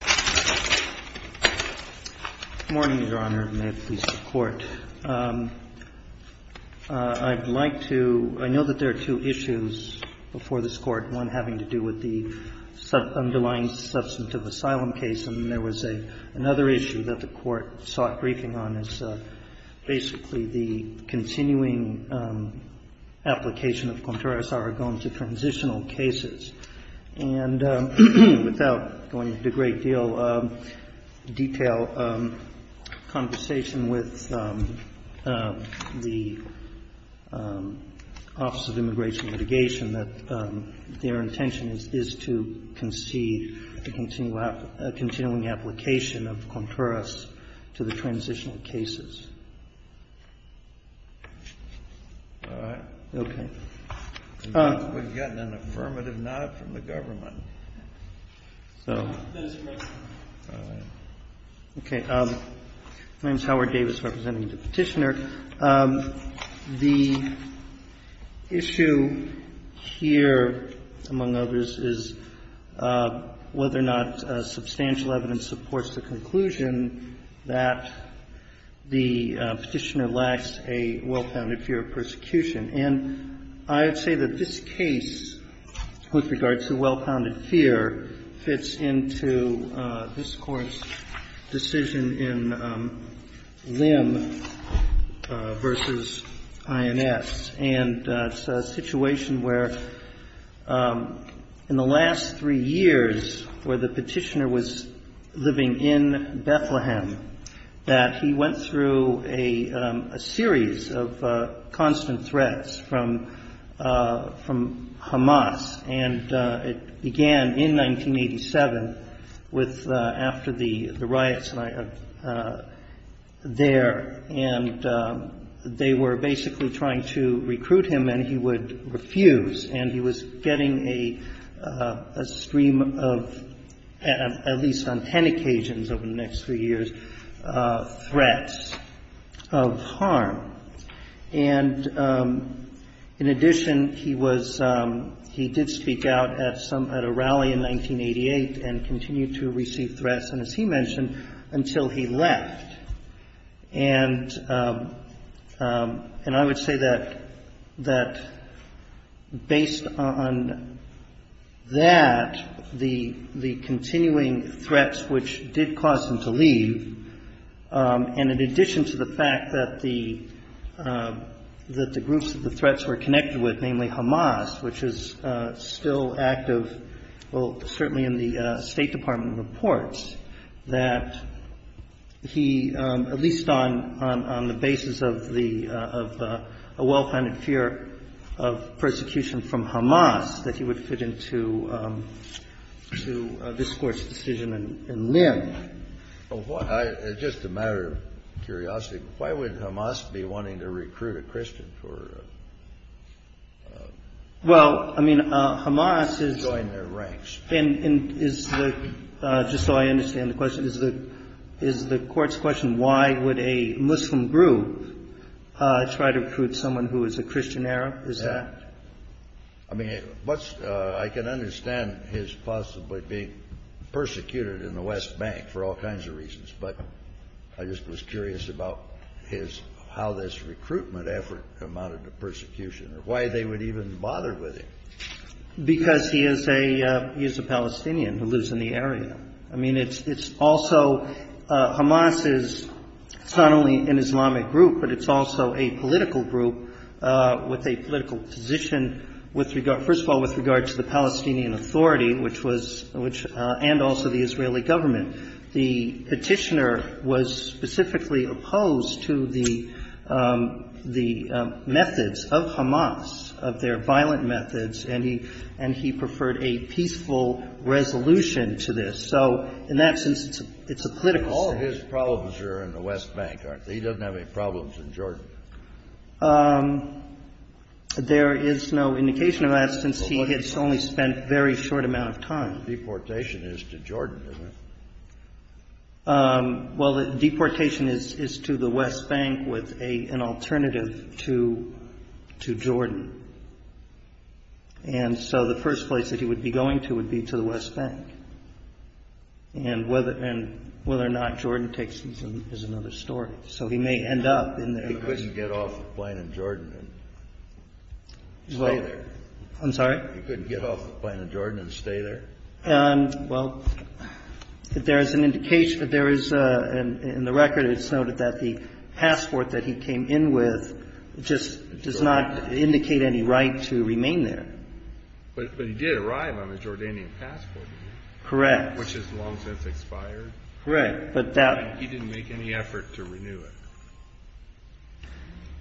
Good morning, Your Honor, and may it please the Court. I'd like to, I know that there are two issues before this Court, one having to do with the underlying substantive asylum case, and there was another issue that the Court sought briefing on is basically the continuing application of contrarios aragons to transitional cases. And without going into a great deal of detail, conversation with the Office of Immigration and Mitigation, that their intention is to concede the continuing application of contrarios to the transitional cases. All right. Okay. We're getting an affirmative nod from the government. So. All right. Okay. My name is Howard Davis, representing the Petitioner. The issue here, among others, is whether or not substantial evidence supports the conclusion that the Petitioner lacks a well-founded fear of persecution. And I would say that this case, with regard to well-founded fear, fits into this Court's decision in Lim v. INS. And it's a situation where, in the last three years, where the Petitioner was living in Bethlehem, that he went through a series of constant threats from Hamas. And it began in 1987 with the riots there, and they were basically trying to recruit him, and he would refuse. And he was getting a stream of, at least on ten occasions over the next three years, threats of harm. And in addition, he was – he did speak out at some – at a rally in 1988 and continued to receive threats, and as he mentioned, until he left. And I would say that based on that, the continuing threats which did cause him to leave, and in addition to the fact that the groups that the threats were connected with, namely Hamas, which is still active, well, certainly in the State Department reports that he, at least on the basis of the – of a well-founded fear of persecution from Hamas, that he would fit into this Court's decision in Lim. Kennedy. Well, I – just a matter of curiosity, why would Hamas be wanting to recruit a Christian for joining their ranks? And is the – just so I understand the question, is the – is the Court's question, why would a Muslim group try to recruit someone who is a Christian Arab? Is that – I mean, what's – I can understand his possibly being persecuted in the West Bank for all kinds of reasons, but I just was curious about his – how this recruitment effort amounted to persecution, or why they would even bother with him. Because he is a – he is a Palestinian who lives in the area. I mean, it's also – Hamas is not only an Islamic group, but it's also a political group with a political position with regard – first of all, with regard to the Palestinian Authority, which was – which – and also the Israeli government. The petitioner was specifically opposed to the – the methods of Hamas, of their violent methods, and he – and he preferred a peaceful resolution to this. So in that sense, it's a political thing. All of his problems are in the West Bank, aren't they? He doesn't have any problems in Jordan. There is no indication of that, since he has only spent a very short amount of time. Deportation is to Jordan, isn't it? Well, the deportation is to the West Bank with an alternative to Jordan. And so the first place that he would be going to would be to the West Bank. And whether – and whether or not Jordan takes him is another story. So he may end up in the – He couldn't get off the plane in Jordan and stay there. I'm sorry? He couldn't get off the plane in Jordan and stay there? Well, there is an indication – there is – in the record, it's noted that the passport that he came in with just does not indicate any right to remain there. But he did arrive on a Jordanian passport. Correct. Which has long since expired. Correct, but that – He didn't make any effort to renew it.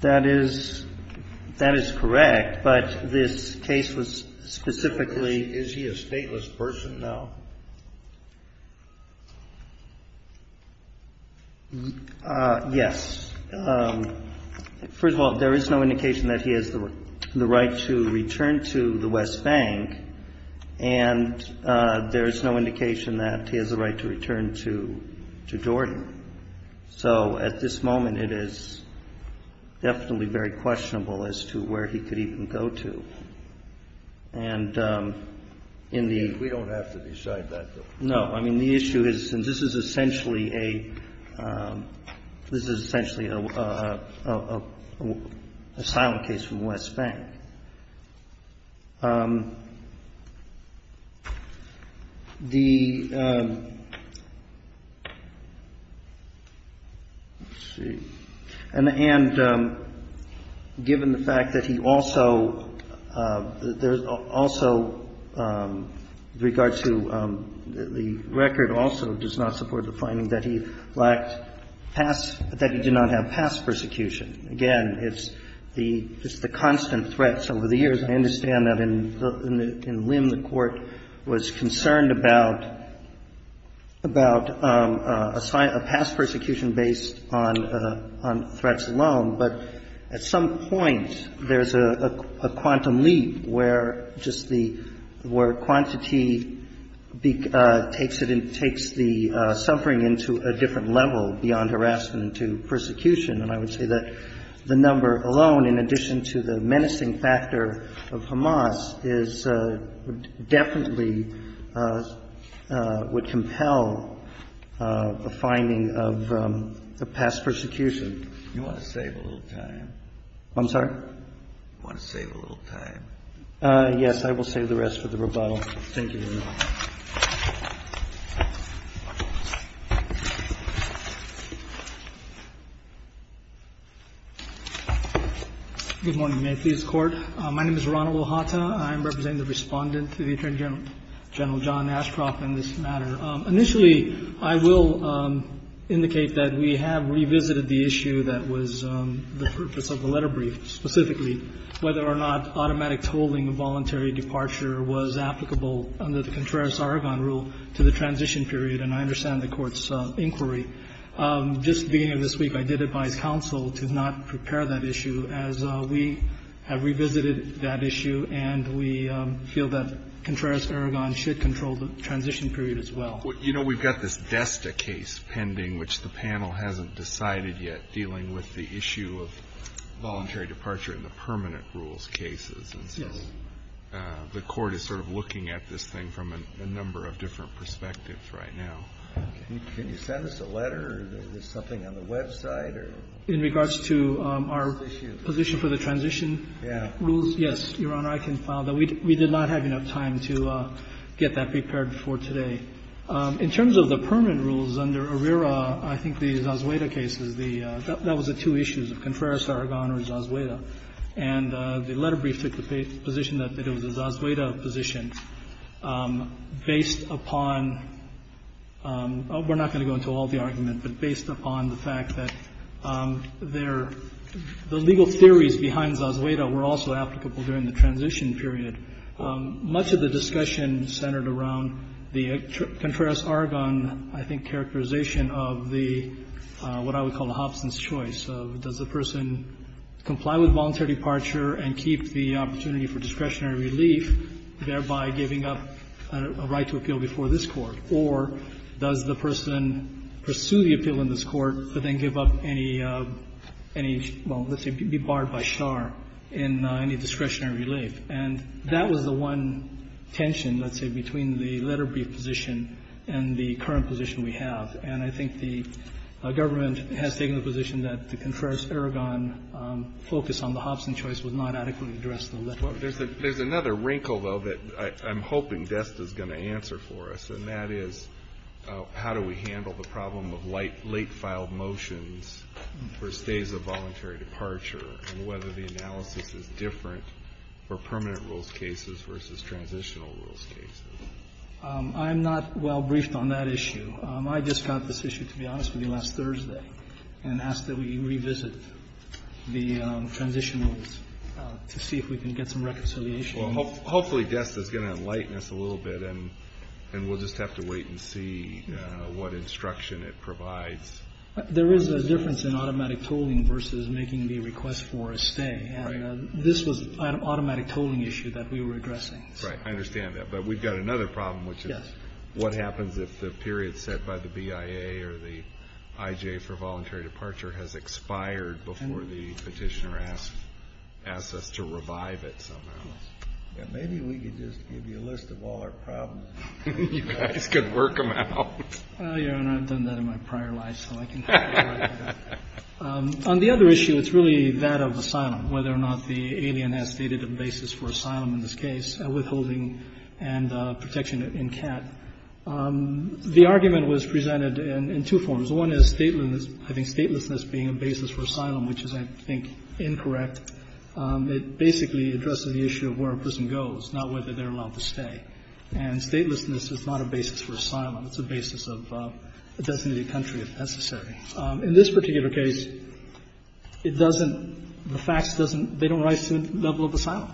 That is – that is correct, but this case was specifically – Is he a stateless person now? Yes. First of all, there is no indication that he has the right to return to the West Bank, and there is no indication that he has a right to return to Jordan. So at this moment, it is definitely very questionable as to where he could even go to. And in the – We don't have to decide that, though. No. I mean, the issue is – and this is essentially a – this is essentially a silent case from West Bank. The – let's see. And given the fact that he also – there's also – with regard to the record also does not support the finding that he lacked past – that he did not have past persecution. Again, it's the – it's the constant threats over the years. I understand that in Lim the Court was concerned about – about a past persecution based on threats alone. But at some point, there's a quantum leap where just the – where quantity takes it in – takes the suffering into a different level beyond harassment to persecution. And I would say that the number alone, in addition to the menacing factor of Hamas, is – definitely would compel a finding of past persecution. You want to save a little time? I'm sorry? You want to save a little time? Yes. I will save the rest for the rebuttal. Thank you, Your Honor. Good morning. May it please the Court. My name is Ronald Ohata. I am representing the Respondent to the Attorney General, General John Ashcroft, in this matter. Initially, I will indicate that we have revisited the issue that was the purpose of the letter brief, specifically, whether or not automatic tolling of voluntary departure was applicable under the Contreras-Aragon rule to the transition period. And I understand the Court's inquiry. Just at the beginning of this week, I did advise counsel to not prepare that issue, as we have revisited that issue, and we feel that Contreras-Aragon should control the transition period as well. You know, we've got this Desta case pending, which the panel hasn't decided yet, dealing with the issue of voluntary departure in the permanent rules cases. And so the Court is sort of looking at this thing from a number of different perspectives right now. Can you send us a letter? Is there something on the website? In regards to our position for the transition rules? Yes, Your Honor. I can file that. We did not have enough time to get that prepared for today. In terms of the permanent rules under ARERA, I think the Zazueda cases, the – that was the two issues, the Contreras-Aragon or Zazueda. And the letter brief took the position that it was a Zazueda position based upon – we're not going to go into all the argument, but based upon the fact that their – the legal theories behind Zazueda were also applicable during the transition period. Much of the discussion centered around the Contreras-Aragon, I think, characterization of the – what I would call a Hobson's choice of does the person comply with voluntary departure and keep the opportunity for discretionary relief, thereby giving up a right to appeal before this Court, or does the person pursue the appeal in this Court but then give up any – well, let's say be barred by SHAR in any discretionary relief. And that was the one tension, let's say, between the letter brief position and the current position we have. And I think the government has taken the position that the Contreras-Aragon focus on the Hobson choice would not adequately address the letter brief. There's another wrinkle, though, that I'm hoping Dest is going to answer for us, and that is how do we handle the problem of late filed motions for stays of voluntary departure and whether the analysis is different for permanent rules cases versus transitional rules cases. I'm not well briefed on that issue. I just got this issue, to be honest with you, last Thursday and asked that we revisit the transition rules to see if we can get some reconciliation. Well, hopefully Dest is going to enlighten us a little bit, and we'll just have to wait and see what instruction it provides. There is a difference in automatic tolling versus making the request for a stay. Right. And this was an automatic tolling issue that we were addressing. Right. I understand that. But we've got another problem, which is what happens if the period set by the BIA or the IJ for voluntary departure has expired before the Petitioner asks us to revive it somehow. Maybe we could just give you a list of all our problems. You guys could work them out. Well, Your Honor, I've done that in my prior life, so I can tell you what I've got. On the other issue, it's really that of asylum, whether or not the alien has stated a basis for asylum in this case, withholding and protection in cat. The argument was presented in two forms. One is statelessness being a basis for asylum, which is, I think, incorrect. It basically addresses the issue of where a person goes, not whether they're allowed to stay. And statelessness is not a basis for asylum. It's a basis of a designated country, if necessary. In this particular case, it doesn't – the facts doesn't – they don't rise to the level of asylum.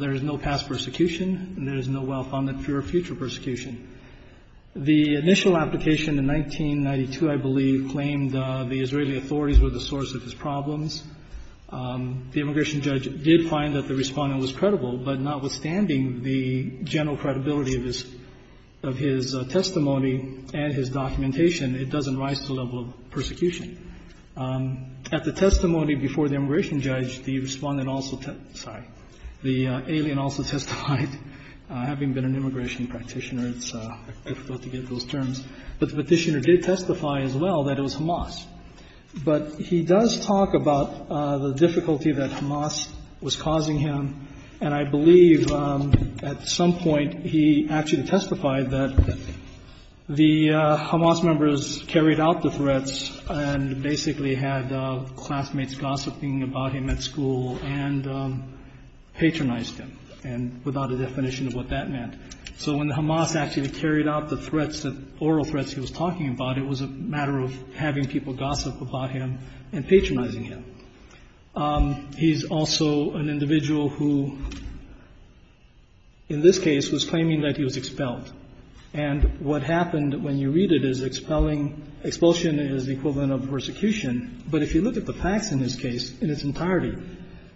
There is no past persecution, and there is no well-founded future persecution. The initial application in 1992, I believe, claimed the Israeli authorities were the source of his problems. The immigration judge did find that the Respondent was credible, but notwithstanding the general credibility of his – of his testimony and his documentation, it doesn't rise to the level of persecution. At the testimony before the immigration judge, the Respondent also – sorry – the alien also testified, having been an immigration practitioner. It's difficult to get those terms. But the Petitioner did testify as well that it was Hamas. But he does talk about the difficulty that Hamas was causing him, and I believe at some point he actually testified that the Hamas members carried out the threats and basically had classmates gossiping about him at school and patronized him, and without a definition of what that meant. So when the Hamas actually carried out the threats, the oral threats he was talking about, it was a matter of having people gossip about him and patronizing him. He's also an individual who, in this case, was claiming that he was expelled. And what happened, when you read it, is expelling – expulsion is the equivalent of persecution, but if you look at the facts in this case, in its entirety,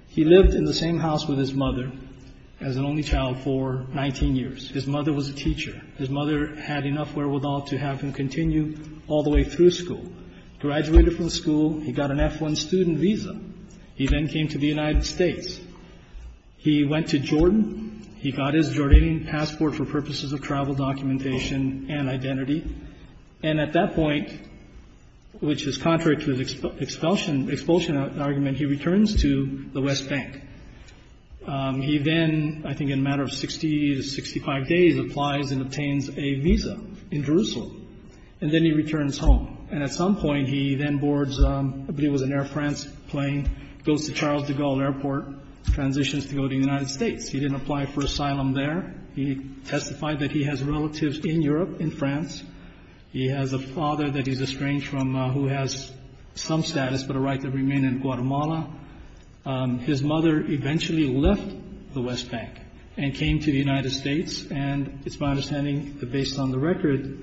he lived in the same house with his mother as an only child for 19 years. His mother was a teacher. His mother had enough wherewithal to have him continue all the way through school. Graduated from school. He got an F-1 student visa. He then came to the United States. He went to Jordan. He got his Jordanian passport for purposes of travel documentation and identity. And at that point, which is contrary to his expulsion argument, he returns to the West Bank. He then, I think in a matter of 60 to 65 days, applies and obtains a visa in Jerusalem. And then he returns home. And at some point, he then boards, I believe it was an Air France plane, goes to Charles de Gaulle Airport, transitions to go to the United States. He didn't apply for asylum there. He testified that he has relatives in Europe, in France. He has a father that he's estranged from who has some status but a right to remain in Guatemala. His mother eventually left the West Bank and came to the United States. And it's my understanding that based on the record,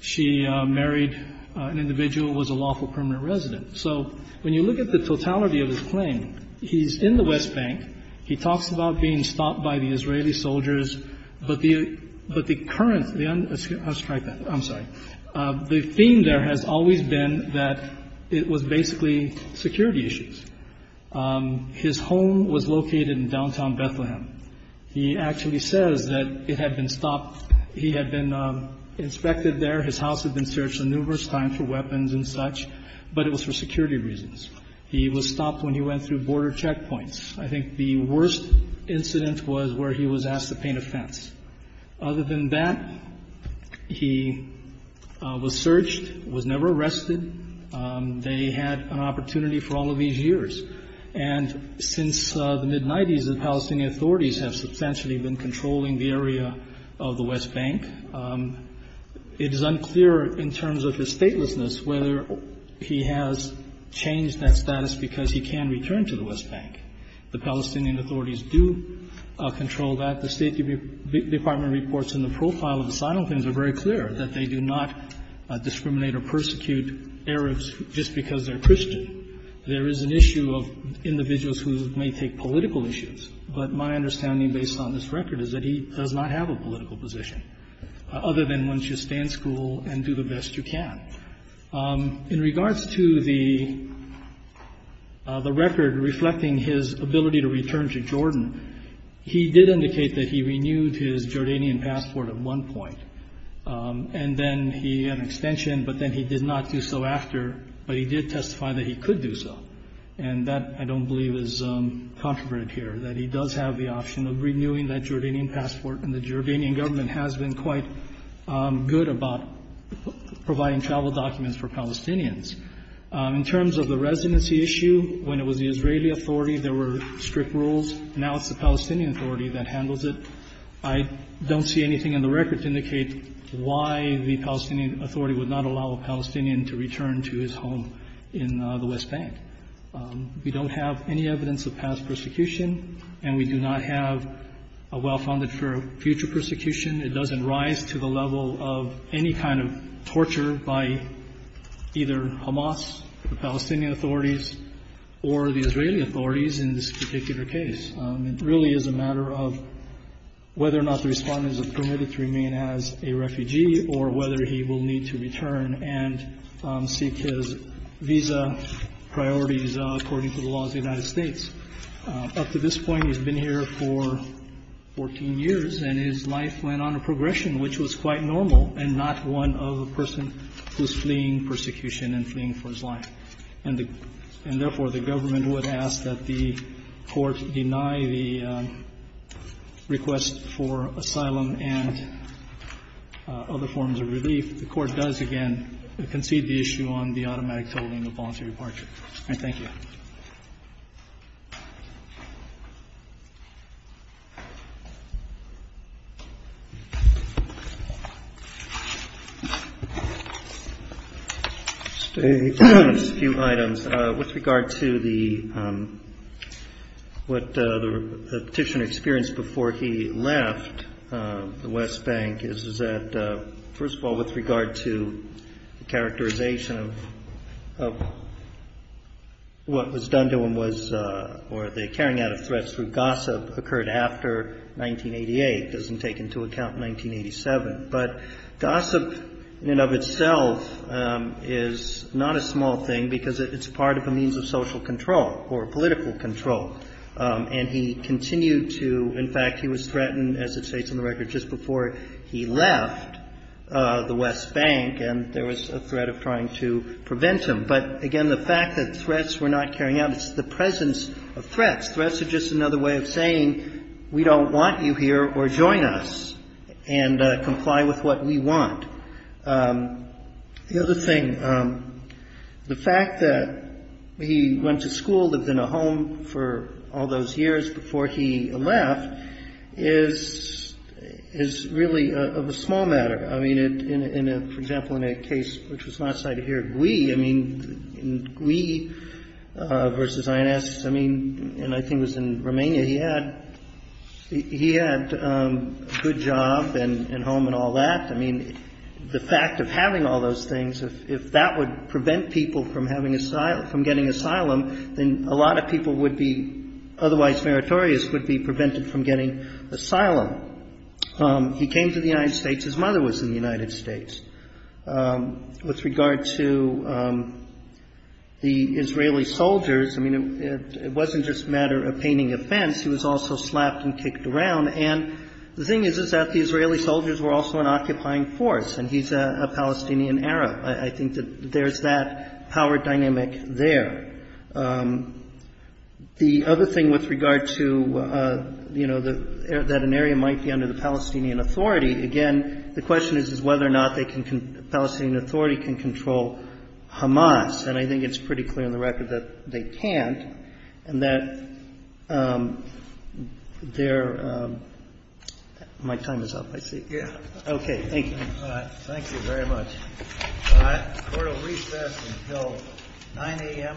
she married an individual who was a lawful permanent resident. So when you look at the totality of his claim, he's in the West Bank. He talks about being stopped by the Israeli soldiers. But the current, I'm sorry. The theme there has always been that it was basically security issues. His home was located in downtown Bethlehem. He actually says that it had been stopped. He had been inspected there. His house had been searched numerous times for weapons and such. But it was for security reasons. He was stopped when he went through border checkpoints. I think the worst incident was where he was asked to paint a fence. Other than that, he was searched, was never arrested. They had an opportunity for all of these years. And since the mid-'90s, the Palestinian authorities have substantially been controlling the area of the West Bank. It is unclear in terms of his statelessness whether he has changed that status because he can return to the West Bank. The Palestinian authorities do control that. The State Department reports in the profile of the sign-offings are very clear that they do not discriminate or persecute Arabs just because they're Christian. There is an issue of individuals who may take political issues. But my understanding, based on this record, is that he does not have a political position, other than once you stay in school and do the best you can. In regards to the record reflecting his ability to return to Jordan, he did indicate that he renewed his Jordanian passport at one point. And then he had an extension, but then he did not do so after. But he did testify that he could do so. And that, I don't believe, is controverted here, that he does have the option of renewing that Jordanian passport. And the Jordanian government has been quite good about providing travel documents for Palestinians. In terms of the residency issue, when it was the Israeli authority, there were strict rules. Now it's the Palestinian authority that handles it. I don't see anything in the record to indicate why the Palestinian authority would not allow a Palestinian to return to his home in the West Bank. We don't have any evidence of past persecution, and we do not have a well-founded for future persecution. It doesn't rise to the level of any kind of torture by either Hamas, the Palestinian authorities, or the Israeli authorities in this particular case. It really is a matter of whether or not the Respondent is permitted to remain as a refugee or whether he will need to return and seek his visa priorities according to the laws of the United States. Up to this point, he's been here for 14 years, and his life went on a progression, which was quite normal and not one of a person who's fleeing persecution and fleeing for his life. And therefore, the government would ask that the court deny the request for asylum and other forms of relief. The court does, again, concede the issue on the automatic tolling of voluntary departure. Thank you. Just a few items with regard to what the petitioner experienced before he left the West Bank. First of all, with regard to the characterization of what was done to him was, or the carrying out of threats through gossip occurred after 1988. It doesn't take into account 1987. But gossip in and of itself is not a small thing because it's part of a means of social control or political control. And he continued to, in fact, he was threatened, as it states in the record, just before he left the West Bank and there was a threat of trying to prevent him. But, again, the fact that threats were not carrying out, it's the presence of threats. Threats are just another way of saying we don't want you here or join us and comply with what we want. The other thing, the fact that he went to school, lived in a home for all those years before he left is really of a small matter. I mean, in a, for example, in a case which was not cited here, GUI, I mean, GUI versus INS, I mean, and I think it was in Romania, he had a good job and home and all that. I mean, the fact of having all those things, if that would prevent people from having asylum, from getting asylum, then a lot of people would be otherwise meritorious, would be prevented from getting asylum. He came to the United States. His mother was in the United States. With regard to the Israeli soldiers, I mean, it wasn't just a matter of painting a fence. He was also slapped and kicked around. And the thing is, is that the Israeli soldiers were also an occupying force, and he's a Palestinian Arab. I think that there's that power dynamic there. The other thing with regard to, you know, that an area might be under the Palestinian Authority, again, the question is whether or not they can, the Palestinian Authority can control Hamas. And I think it's pretty clear on the record that they can't and that they're my time is up, I see. Okay. Thank you. Thank you very much. Court will recess until 9 a.m. tomorrow morning. Thank you.